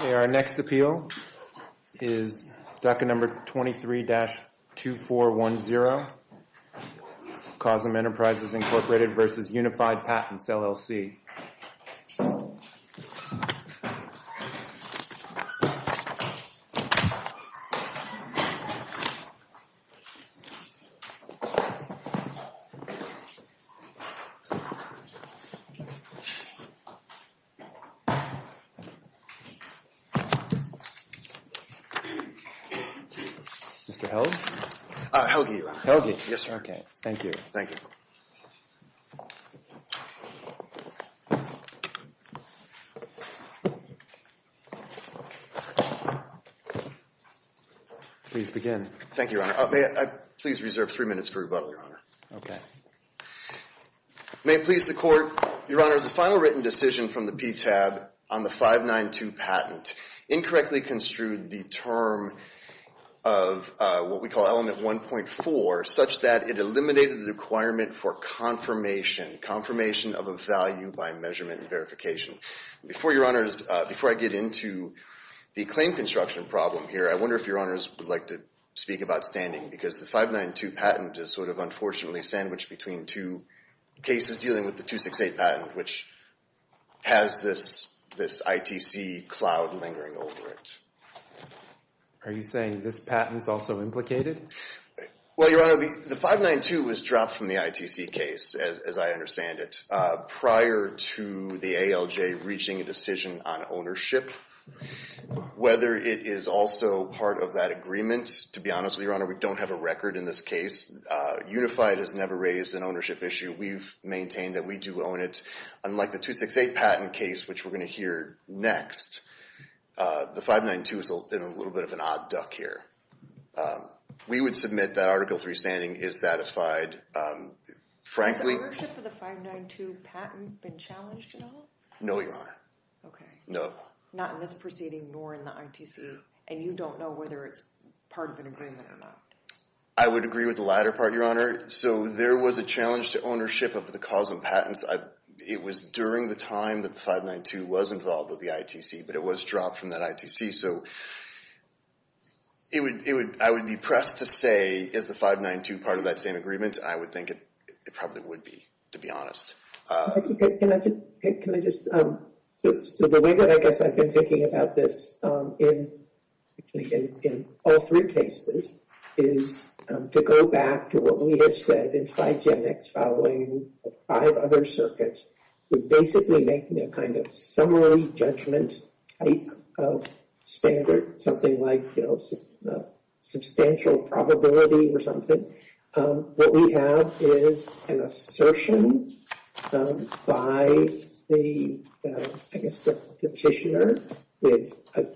Our next appeal is docket number 23-2410, Causam Enterprises, Inc. v. Unified Patents, LLC. Mr. Helge? Helge, Your Honor. Helge. Yes, sir. Okay. Thank you. Thank you. Please begin. Thank you, Your Honor. May I please reserve three minutes for rebuttal, Your Honor. Okay. May it please the Court, Your Honor, as the final written decision from the PTAB on the 592 patent incorrectly construed the term of what we call Element 1.4 such that it eliminated the requirement for confirmation, confirmation of a value by measurement and verification. Before I get into the claim construction problem here, I wonder if Your Honors would like to speak about standing because the 592 patent is sort of unfortunately sandwiched between two cases dealing with the 268 patent, which has this ITC cloud lingering over it. Are you saying this patent is also implicated? Well, Your Honor, the 592 was dropped from the ITC case, as I understand it, prior to the ALJ reaching a decision on ownership. Whether it is also part of that agreement, to be honest with you, Your Honor, we don't have a record in this case. Unified has never raised an ownership issue. We've maintained that we do own it. Unlike the 268 patent case, which we're going to hear next, the 592 has been a little bit of an odd duck here. We would submit that Article 3 standing is satisfied. Has the ownership of the 592 patent been challenged at all? No, Your Honor. Okay. No. Not in this proceeding nor in the ITC, and you don't know whether it's part of an agreement or not. I would agree with the latter part, Your Honor. So there was a challenge to ownership of the cause of patents. It was during the time that the 592 was involved with the ITC, but it was dropped from that ITC. So I would be pressed to say, is the 592 part of that same agreement? I would think it probably would be, to be honest. Can I just—so the way that I guess I've been thinking about this in all three cases is to go back to what we have said in Figenics following five other circuits. We're basically making a kind of summary judgment type of standard, something like, you know, substantial probability or something. What we have is an assertion by the, I guess, the petitioner that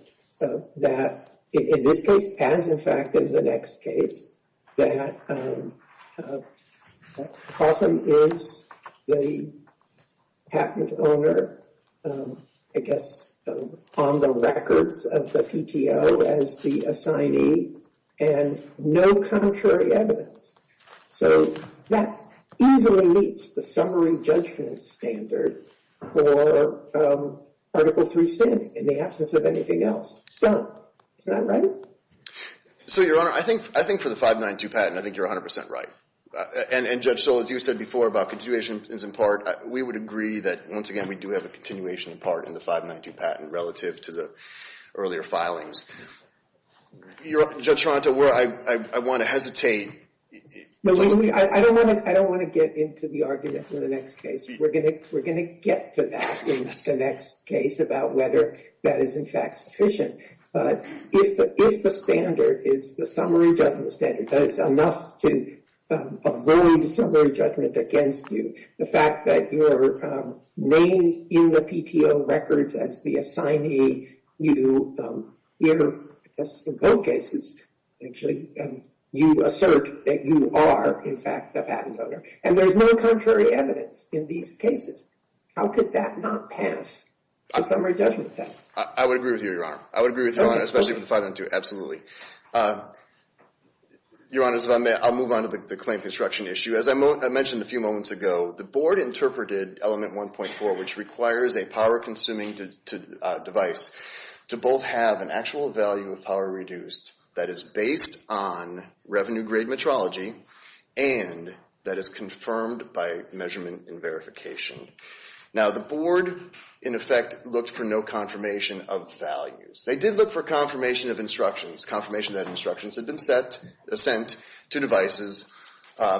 in this case, as in fact in the next case, that Possum is the patent owner, I guess, on the records of the PTO as the assignee, and no contrary evidence. So that easily meets the summary judgment standard for Article 3C in the absence of anything else. It's done. Isn't that right? So, Your Honor, I think for the 592 patent, I think you're 100 percent right. And, Judge Stoll, as you said before about continuations in part, we would agree that, once again, we do have a continuation in part in the 592 patent relative to the earlier filings. Judge Toronto, I want to hesitate. I don't want to get into the argument in the next case. We're going to get to that in the next case about whether that is, in fact, sufficient. But if the standard is the summary judgment standard, that is enough to avoid summary judgment against you, the fact that you're named in the PTO records as the assignee, you, in both cases, actually, you assert that you are, in fact, the patent owner. And there's no contrary evidence in these cases. How could that not pass the summary judgment test? I would agree with you, Your Honor. I would agree with you, Your Honor, especially with the 502. Absolutely. Your Honor, if I may, I'll move on to the claim construction issue. As I mentioned a few moments ago, the board interpreted Element 1.4, which requires a power-consuming device to both have an actual value of power reduced that is based on revenue-grade metrology and that is confirmed by measurement and verification. Now, the board, in effect, looked for no confirmation of values. They did look for confirmation of instructions, confirmation that instructions had been sent to devices.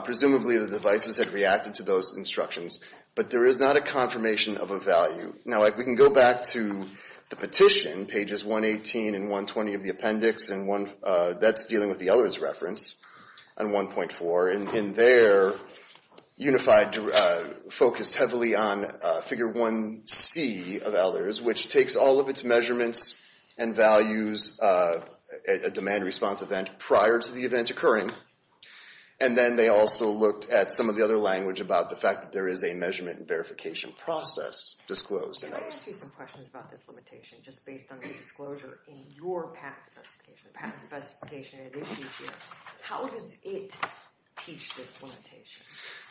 Presumably, the devices had reacted to those instructions, but there is not a confirmation of a value. Now, we can go back to the petition, pages 118 and 120 of the appendix, and that's dealing with the Ehlers reference on 1.4. In there, UNIFI focused heavily on Figure 1c of Ehlers, which takes all of its measurements and values at demand response event prior to the event occurring. And then they also looked at some of the other language about the fact that there is a measurement and verification process disclosed. Can I just ask you some questions about this limitation, just based on your disclosure in your patent specification? The patent specification, it is GPS. How does it teach this limitation?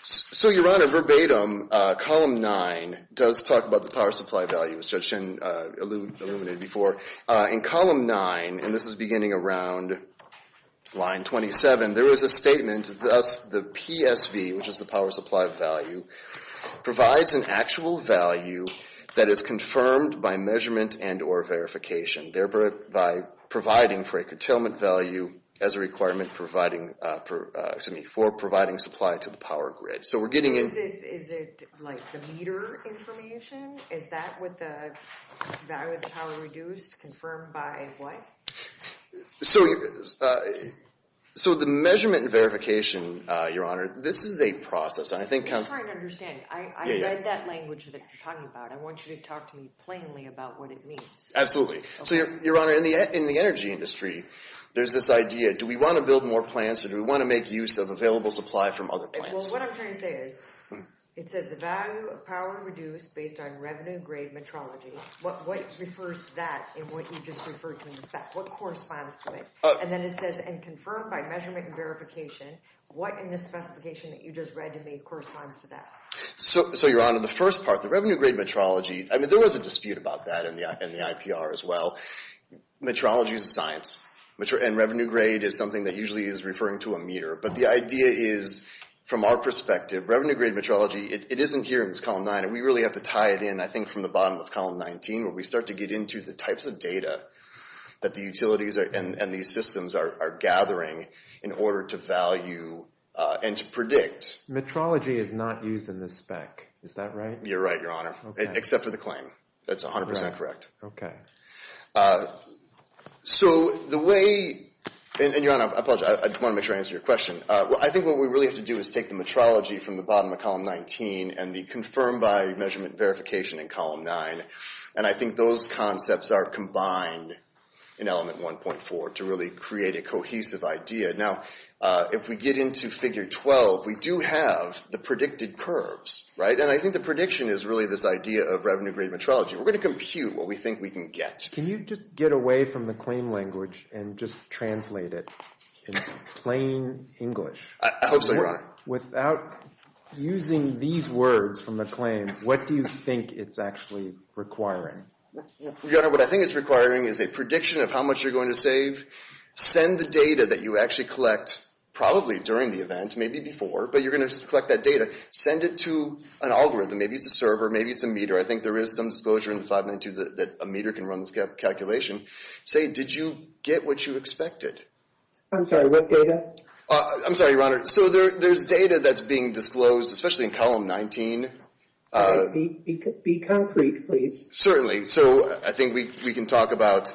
So, Your Honor, verbatim, Column 9 does talk about the power supply value, as Judge Chen illuminated before. In Column 9, and this is beginning around line 27, there is a statement, thus the PSV, which is the power supply value, provides an actual value that is confirmed by measurement and or verification. Thereby providing for a curtailment value as a requirement for providing supply to the power grid. Is it like the meter information? Is that with the value of the power reduced confirmed by what? So, the measurement and verification, Your Honor, this is a process. I'm trying to understand. I read that language that you're talking about. I want you to talk to me plainly about what it means. Absolutely. So, Your Honor, in the energy industry, there's this idea, do we want to build more plants or do we want to make use of available supply from other plants? Well, what I'm trying to say is, it says the value of power reduced based on revenue grade metrology. What refers to that in what you just referred to in the spec? What corresponds to it? And then it says, and confirmed by measurement and verification, what in the specification that you just read to me corresponds to that? So, Your Honor, the first part, the revenue grade metrology, I mean, there was a dispute about that in the IPR as well. Metrology is a science, and revenue grade is something that usually is referring to a meter. But the idea is, from our perspective, revenue grade metrology, it isn't here in this column nine. And we really have to tie it in, I think, from the bottom of column 19 where we start to get into the types of data that the utilities and these systems are gathering in order to value and to predict. Metrology is not used in this spec. Is that right? You're right, Your Honor, except for the claim. That's 100 percent correct. Okay. So the way, and Your Honor, I apologize, I want to make sure I answer your question. I think what we really have to do is take the metrology from the bottom of column 19 and the confirmed by measurement verification in column nine. And I think those concepts are combined in element 1.4 to really create a cohesive idea. Now, if we get into figure 12, we do have the predicted curves, right? And I think the prediction is really this idea of revenue grade metrology. We're going to compute what we think we can get. Can you just get away from the claim language and just translate it in plain English? I hope so, Your Honor. Without using these words from the claim, what do you think it's actually requiring? Your Honor, what I think it's requiring is a prediction of how much you're going to save. Send the data that you actually collect probably during the event, maybe before, but you're going to collect that data. Send it to an algorithm. Maybe it's a server. Maybe it's a meter. I think there is some disclosure in 592 that a meter can run this calculation. Say, did you get what you expected? I'm sorry, what data? I'm sorry, Your Honor. So there's data that's being disclosed, especially in column 19. Be concrete, please. Certainly. So I think we can talk about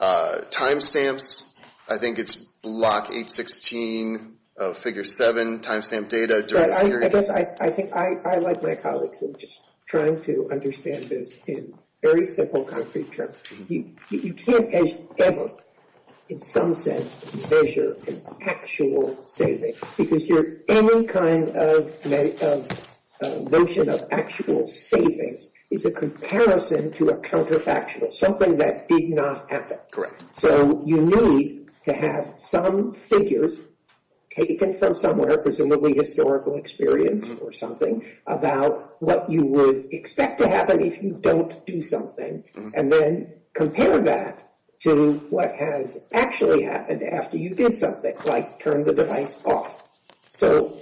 timestamps. I think it's block 816 of figure 7, timestamp data during this period. I guess I think I, like my colleagues, am just trying to understand this in very simple, concrete terms. You can't ever, in some sense, measure an actual savings because any kind of notion of actual savings is a comparison to a counterfactual, something that did not happen. Correct. So you need to have some figures taken from somewhere, presumably historical experience or something, about what you would expect to happen if you don't do something. And then compare that to what has actually happened after you did something, like turn the device off. So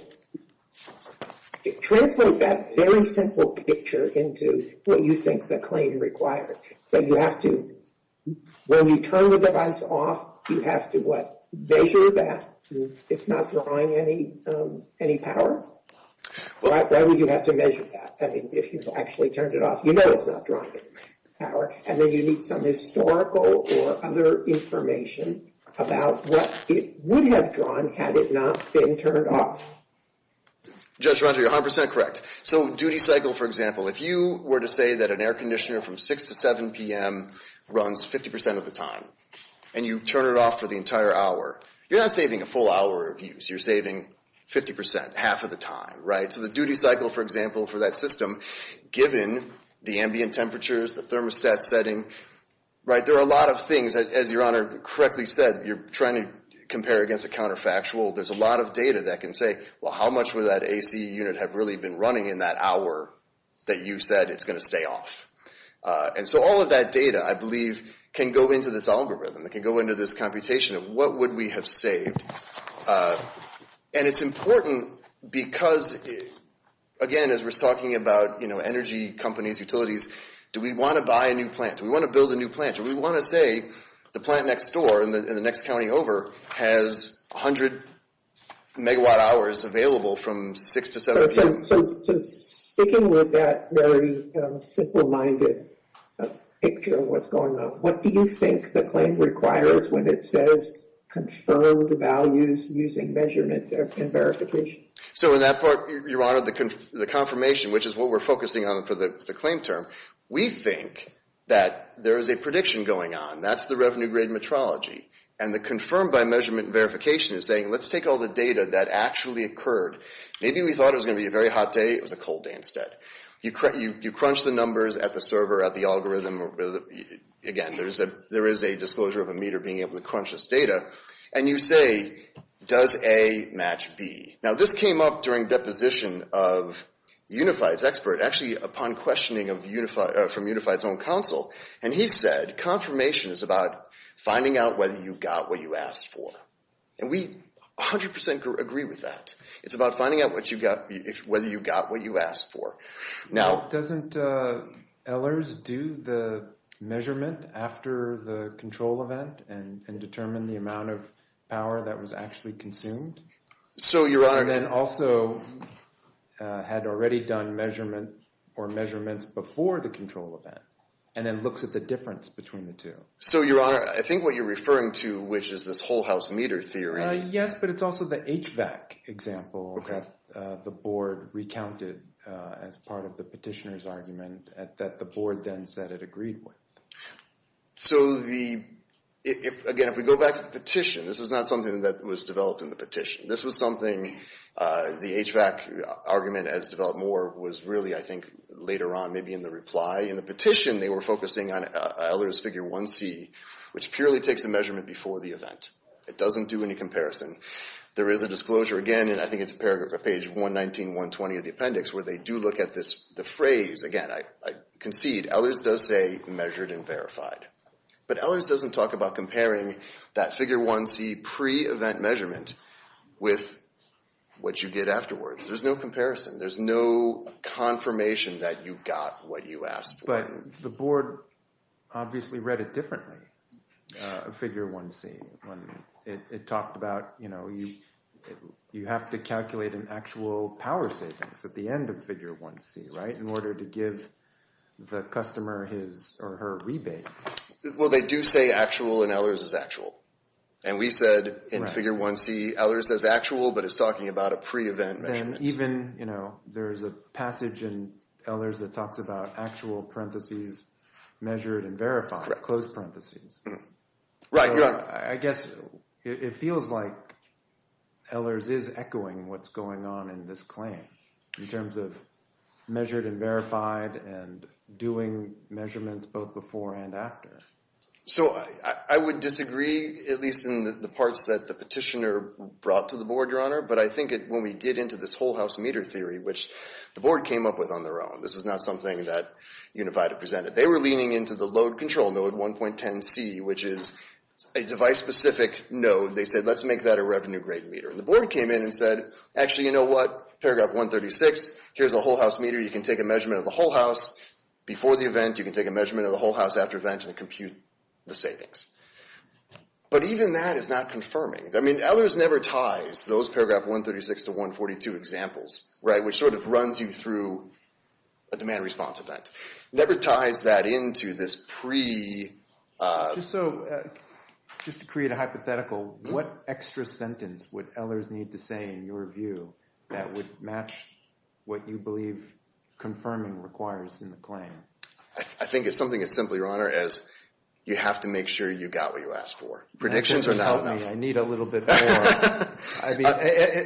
translate that very simple picture into what you think the claim requires. But you have to, when you turn the device off, you have to, what, measure that? It's not drawing any power? Why would you have to measure that? I mean, if you've actually turned it off, you know it's not drawing power. And then you need some historical or other information about what it would have drawn had it not been turned off. Judge Rontal, you're 100% correct. So duty cycle, for example, if you were to say that an air conditioner from 6 to 7 p.m. runs 50% of the time and you turn it off for the entire hour, you're not saving a full hour of use. You're saving 50%, half of the time, right? So the duty cycle, for example, for that system, given the ambient temperatures, the thermostat setting, right, there are a lot of things that, as Your Honor correctly said, you're trying to compare against a counterfactual. There's a lot of data that can say, well, how much would that AC unit have really been running in that hour that you said it's going to stay off? And so all of that data, I believe, can go into this algorithm. It can go into this computation of what would we have saved. And it's important because, again, as we're talking about, you know, energy companies, utilities, do we want to buy a new plant? Do we want to build a new plant? Do we want to say the plant next door and the next county over has 100 megawatt hours available from 6 to 7 p.m.? So sticking with that very simple-minded picture of what's going on, what do you think the claim requires when it says confirmed values using measurement and verification? So in that part, Your Honor, the confirmation, which is what we're focusing on for the claim term, we think that there is a prediction going on. That's the revenue-grade metrology. And the confirmed by measurement verification is saying, let's take all the data that actually occurred. Maybe we thought it was going to be a very hot day. It was a cold day instead. You crunch the numbers at the server, at the algorithm. Again, there is a disclosure of a meter being able to crunch this data. And you say, does A match B? Now, this came up during deposition of Unified's expert, actually upon questioning from Unified's own counsel. And he said confirmation is about finding out whether you got what you asked for. And we 100% agree with that. It's about finding out whether you got what you asked for. Now, doesn't Ehlers do the measurement after the control event and determine the amount of power that was actually consumed? And then also had already done measurements before the control event and then looks at the difference between the two. So, Your Honor, I think what you're referring to, which is this whole house meter theory. Yes, but it's also the HVAC example that the board recounted as part of the petitioner's argument that the board then said it agreed with. So, again, if we go back to the petition, this is not something that was developed in the petition. This was something the HVAC argument, as developed more, was really, I think, later on, maybe in the reply. In the petition, they were focusing on Ehlers' figure 1C, which purely takes the measurement before the event. It doesn't do any comparison. There is a disclosure, again, and I think it's paragraph or page 119, 120 of the appendix, where they do look at the phrase. Again, I concede Ehlers does say measured and verified, but Ehlers doesn't talk about comparing that figure 1C pre-event measurement with what you get afterwards. There's no comparison. There's no confirmation that you got what you asked for. But the board obviously read it differently, figure 1C. It talked about, you know, you have to calculate an actual power savings at the end of figure 1C, right, in order to give the customer his or her rebate. Well, they do say actual, and Ehlers is actual. And we said in figure 1C, Ehlers is actual, but it's talking about a pre-event measurement. And even, you know, there's a passage in Ehlers that talks about actual parentheses measured and verified, closed parentheses. Right. I guess it feels like Ehlers is echoing what's going on in this claim in terms of measured and verified and doing measurements both before and after. So I would disagree, at least in the parts that the petitioner brought to the board, Your Honor. But I think when we get into this whole house meter theory, which the board came up with on their own, this is not something that Unified had presented. They were leaning into the load control node 1.10C, which is a device-specific node. They said, let's make that a revenue-grade meter. And the board came in and said, actually, you know what, paragraph 136, here's a whole house meter. You can take a measurement of the whole house before the event. You can take a measurement of the whole house after event and compute the savings. But even that is not confirming. I mean, Ehlers never ties those paragraph 136 to 142 examples, right, which sort of runs you through a demand response event. Never ties that into this pre- So just to create a hypothetical, what extra sentence would Ehlers need to say in your view that would match what you believe confirming requires in the claim? I think it's something as simple, Your Honor, as you have to make sure you got what you asked for. Predictions are not enough. That doesn't help me. I need a little bit more.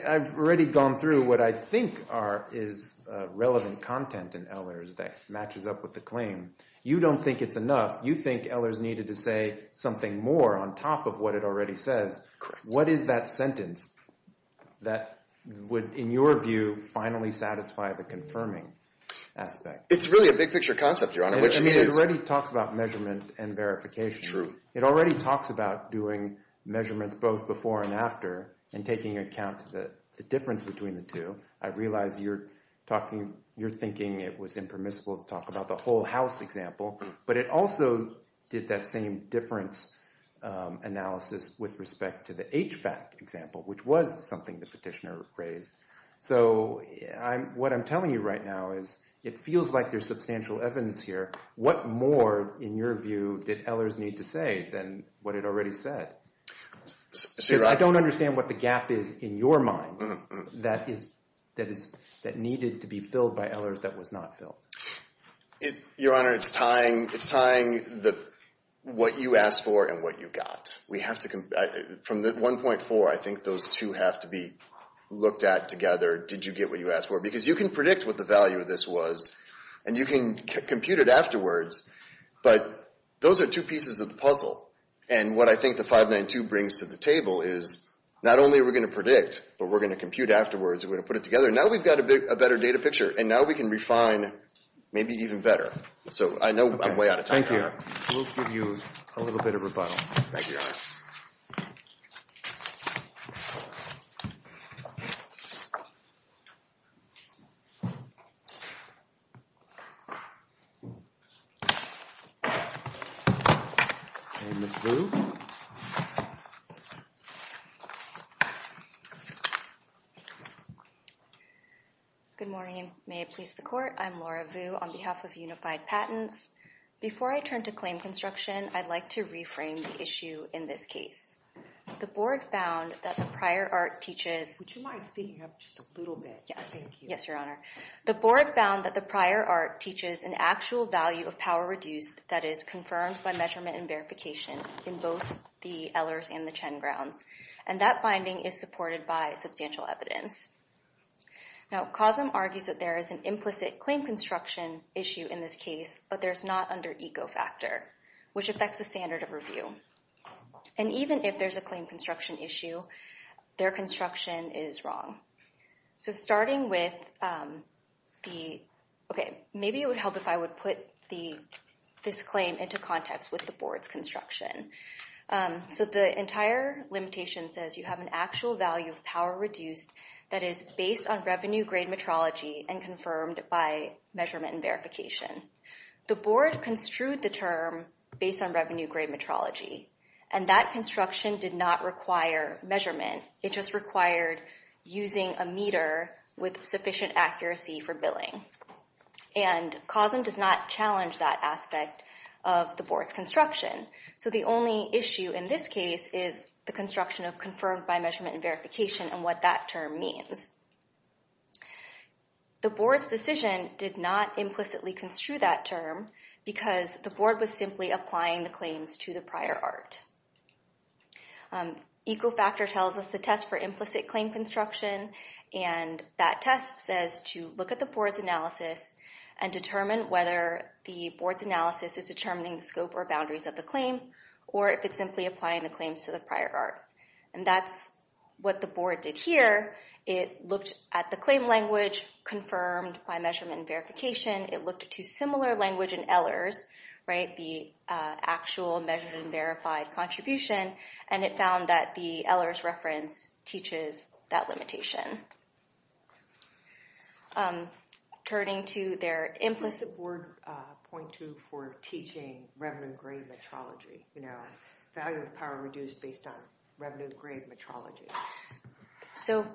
I've already gone through what I think is relevant content in Ehlers that matches up with the claim. You don't think it's enough. You think Ehlers needed to say something more on top of what it already says. What is that sentence that would, in your view, finally satisfy the confirming aspect? It's really a big picture concept, Your Honor. It already talks about measurement and verification. It already talks about doing measurements both before and after and taking account of the difference between the two. I realize you're talking, you're thinking it was impermissible to talk about the whole house example, but it also did that same difference analysis with respect to the HVAC example, which was something the petitioner raised. So what I'm telling you right now is it feels like there's substantial evidence here. What more, in your view, did Ehlers need to say than what it already said? Because I don't understand what the gap is in your mind that needed to be filled by Ehlers that was not filled. Your Honor, it's tying what you asked for and what you got. From 1.4, I think those two have to be looked at together. Did you get what you asked for? Because you can predict what the value of this was, and you can compute it afterwards, but those are two pieces of the puzzle. And what I think the 592 brings to the table is not only are we going to predict, but we're going to compute afterwards, and we're going to put it together. Now we've got a better data picture, and now we can refine maybe even better. So I know I'm way out of time. Thank you. Your Honor, we'll give you a little bit of rebuttal. Thank you, Your Honor. And Ms. Vu? Good morning. May it please the Court, I'm Laura Vu on behalf of Unified Patents. Before I turn to claim construction, I'd like to reframe the issue in this case. The Board found that the prior art teaches— Would you mind speaking up just a little bit? Yes, Your Honor. The Board found that the prior art teaches an actual value of power reduced that is confirmed by measurement and verification in both the Ehlers and the Chen grounds. And that finding is supported by substantial evidence. Now, COSM argues that there is an implicit claim construction issue in this case, but there's not under ecofactor, which affects the standard of review. And even if there's a claim construction issue, their construction is wrong. So starting with the— Okay, maybe it would help if I would put this claim into context with the Board's construction. So the entire limitation says you have an actual value of power reduced that is based on revenue-grade metrology and confirmed by measurement and verification. The Board construed the term based on revenue-grade metrology, and that construction did not require measurement. It just required using a meter with sufficient accuracy for billing. And COSM does not challenge that aspect of the Board's construction. So the only issue in this case is the construction of confirmed by measurement and verification and what that term means. The Board's decision did not implicitly construe that term because the Board was simply applying the claims to the prior art. Ecofactor tells us the test for implicit claim construction. And that test says to look at the Board's analysis and determine whether the Board's analysis is determining the scope or boundaries of the claim or if it's simply applying the claims to the prior art. And that's what the Board did here. It looked at the claim language confirmed by measurement and verification. It looked at two similar language in Ehlers, right, the actual measurement and verified contribution, and it found that the Ehlers reference teaches that limitation. Turning to their implicit... What does the Board point to for teaching revenue-grade metrology, you know, value of power reduced based on revenue-grade metrology? So,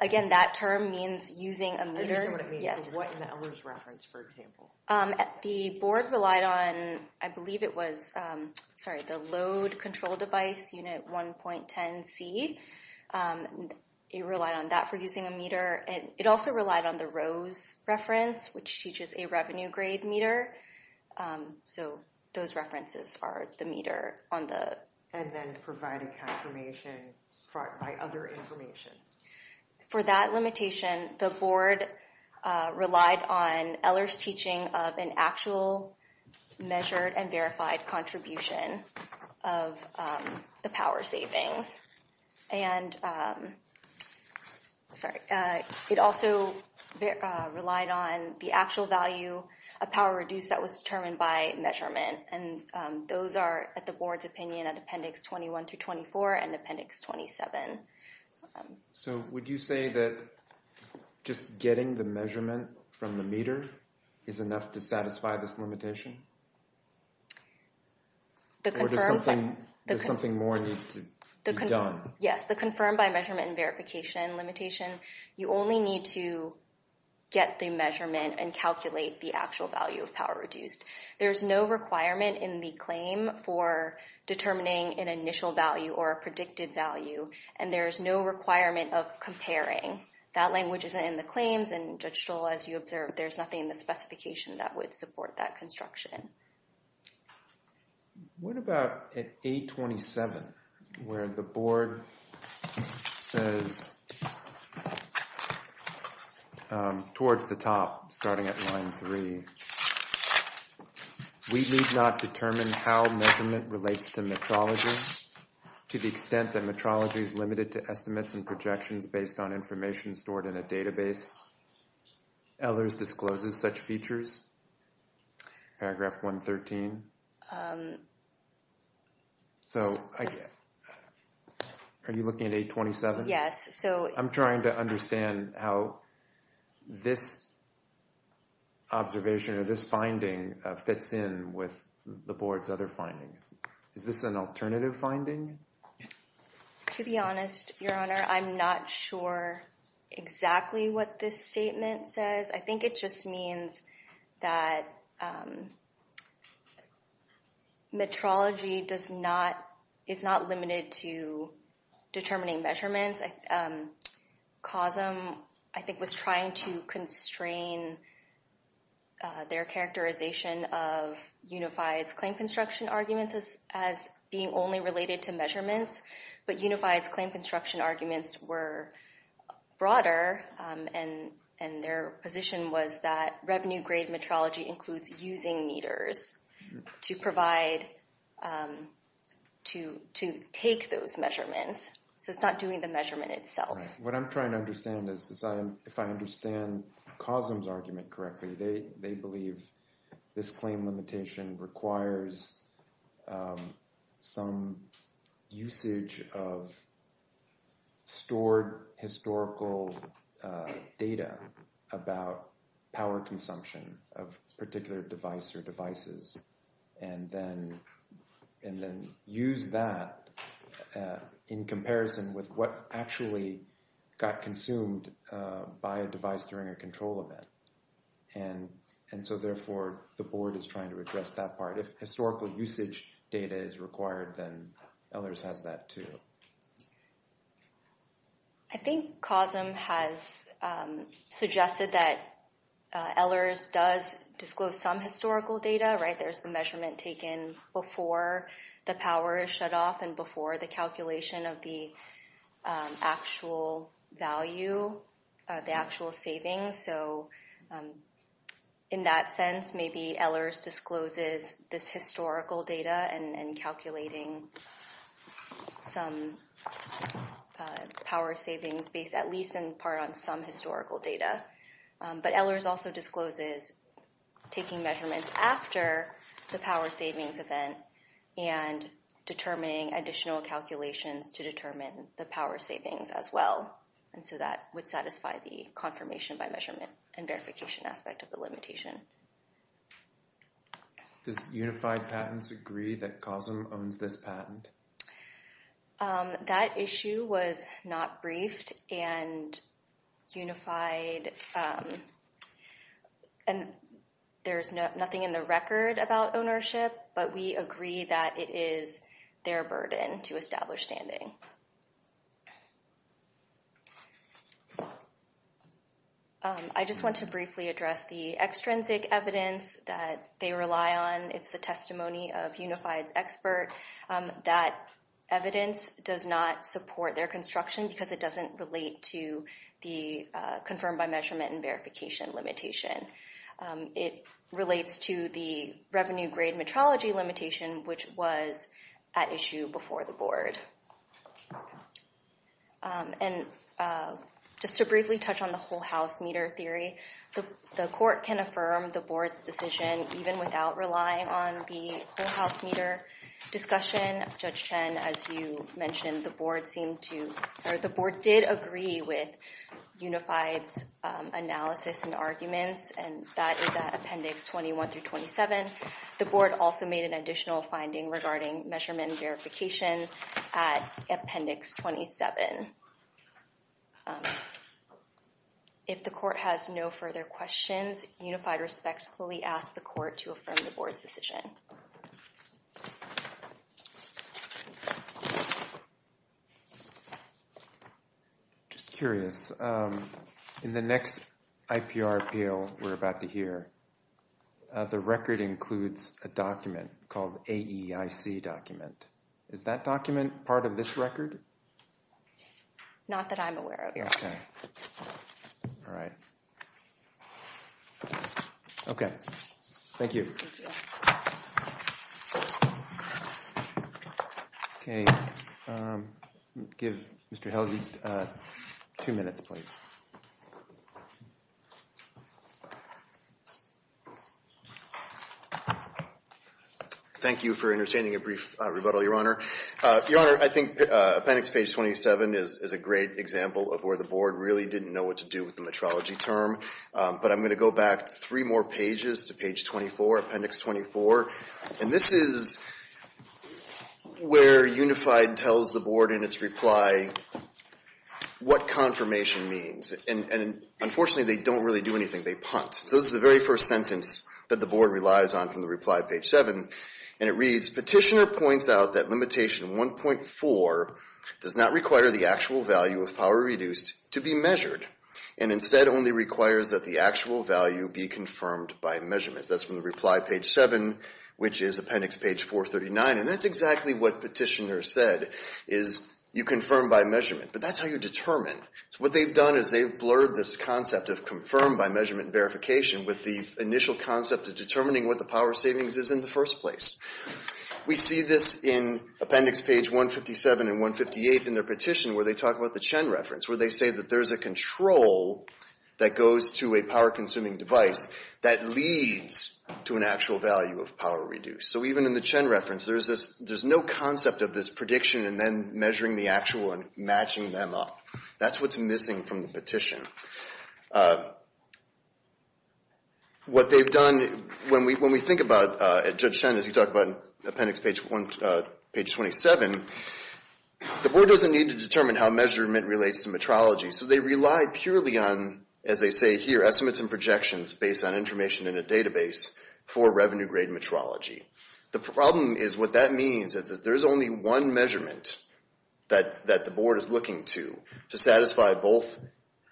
again, that term means using a meter. Yes. What in the Ehlers reference, for example? The Board relied on, I believe it was, sorry, the load control device unit 1.10C. It relied on that for using a meter. It also relied on the Rose reference, which teaches a revenue-grade meter. So those references are the meter on the... And then provided confirmation by other information. For that limitation, the Board relied on Ehlers teaching of an actual measured and verified contribution of the power savings. And, sorry, it also relied on the actual value of power reduced that was determined by measurement. And those are at the Board's opinion at Appendix 21 through 24 and Appendix 27. So would you say that just getting the measurement from the meter is enough to satisfy this limitation? Or does something more need to be done? Yes, the confirmed by measurement and verification limitation, you only need to get the measurement and calculate the actual value of power reduced. There's no requirement in the claim for determining an initial value or a predicted value. And there's no requirement of comparing. That language isn't in the claims. And, Judge Stroll, as you observed, there's nothing in the specification that would support that construction. What about at 827, where the Board says, towards the top, starting at line 3, we need not determine how measurement relates to metrology to the extent that metrology is limited to estimates and projections based on information stored in a database. Elders discloses such features, paragraph 113. Are you looking at 827? Yes. I'm trying to understand how this observation or this finding fits in with the Board's other findings. Is this an alternative finding? To be honest, Your Honor, I'm not sure exactly what this statement says. I think it just means that metrology is not limited to determining measurements. COSM, I think, was trying to constrain their characterization of Unified's claim construction arguments as being only related to measurements. But Unified's claim construction arguments were broader, and their position was that revenue-grade metrology includes using meters to take those measurements. So it's not doing the measurement itself. What I'm trying to understand is, if I understand COSM's argument correctly, they believe this claim limitation requires some usage of stored historical data about power consumption of particular device or devices, and then use that in comparison with what actually got consumed by a device during a control event. And so, therefore, the Board is trying to address that part. If historical usage data is required, then Elders has that too. I think COSM has suggested that Elders does disclose some historical data, right? Just the measurement taken before the power is shut off and before the calculation of the actual value, the actual savings. So in that sense, maybe Elders discloses this historical data and calculating some power savings based at least in part on some historical data. But Elders also discloses taking measurements after the power savings event and determining additional calculations to determine the power savings as well. And so that would satisfy the confirmation by measurement and verification aspect of the limitation. Does Unified Patents agree that COSM owns this patent? That issue was not briefed, and Unified—and there's nothing in the record about ownership, but we agree that it is their burden to establish standing. I just want to briefly address the extrinsic evidence that they rely on. It's the testimony of Unified's expert that evidence does not support their construction because it doesn't relate to the confirmed by measurement and verification limitation. It relates to the revenue grade metrology limitation, which was at issue before the Board. And just to briefly touch on the whole-house meter theory, the Court can affirm the Board's decision even without relying on the whole-house meter discussion. Judge Chen, as you mentioned, the Board seemed to—or the Board did agree with Unified's analysis and arguments, and that is at Appendix 21 through 27. The Board also made an additional finding regarding measurement and verification at Appendix 27. If the Court has no further questions, Unified respectfully asks the Court to affirm the Board's decision. I'm just curious. In the next IPR appeal we're about to hear, the record includes a document called AEIC document. Is that document part of this record? Not that I'm aware of. Okay. All right. Okay. Thank you. Okay. Give Mr. Helge two minutes, please. Thank you for entertaining a brief rebuttal, Your Honor. Your Honor, I think Appendix page 27 is a great example of where the Board really didn't know what to do with the metrology term. But I'm going to go back three more pages to page 24, Appendix 24. And this is where Unified tells the Board in its reply what confirmation means. And unfortunately, they don't really do anything. They punt. So this is the very first sentence that the Board relies on from the reply, page 7. And it reads, Petitioner points out that limitation 1.4 does not require the actual value of power reduced to be measured and instead only requires that the actual value be confirmed by measurement. That's from the reply, page 7, which is Appendix page 439. And that's exactly what Petitioner said, is you confirm by measurement. But that's how you determine. So what they've done is they've blurred this concept of confirm by measurement verification with the initial concept of determining what the power savings is in the first place. We see this in Appendix page 157 and 158 in their petition where they talk about the Chen reference, where they say that there's a control that goes to a power-consuming device that leads to an actual value of power reduced. So even in the Chen reference, there's no concept of this prediction and then measuring the actual and matching them up. That's what's missing from the petition. What they've done, when we think about Judge Chen, as you talk about Appendix page 27, the board doesn't need to determine how measurement relates to metrology, so they rely purely on, as they say here, estimates and projections based on information in a database for revenue-grade metrology. The problem is what that means is that there's only one measurement that the board is looking to, to satisfy both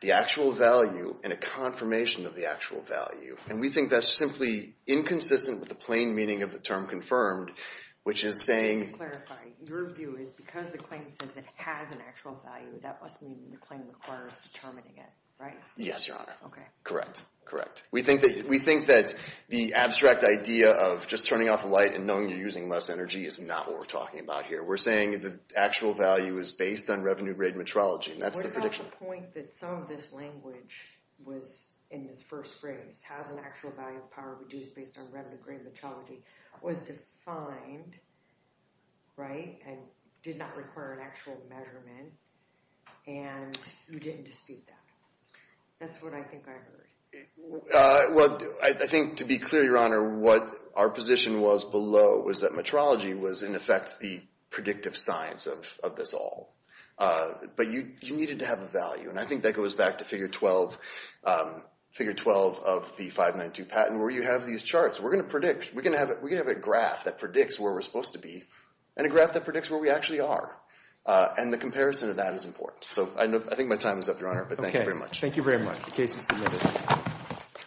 the actual value and a confirmation of the actual value. And we think that's simply inconsistent with the plain meaning of the term confirmed, which is saying— Just to clarify, your view is because the claim says it has an actual value, that must mean the claim requires determining it, right? Yes, Your Honor. Okay. Correct. Correct. We think that the abstract idea of just turning off the light and knowing you're using less energy is not what we're talking about here. We're saying the actual value is based on revenue-grade metrology, and that's the prediction. What about the point that some of this language was, in this first phrase, has an actual value of power reduced based on revenue-grade metrology, was defined, right, and did not require an actual measurement, and you didn't dispute that? That's what I think I heard. Well, I think, to be clear, Your Honor, what our position was below was that metrology was, in effect, the predictive science of this all. But you needed to have a value, and I think that goes back to Figure 12 of the 592 patent where you have these charts. We're going to predict. We're going to have a graph that predicts where we're supposed to be and a graph that predicts where we actually are, and the comparison of that is important. So I think my time is up, Your Honor, but thank you very much. Thank you very much. The case is submitted.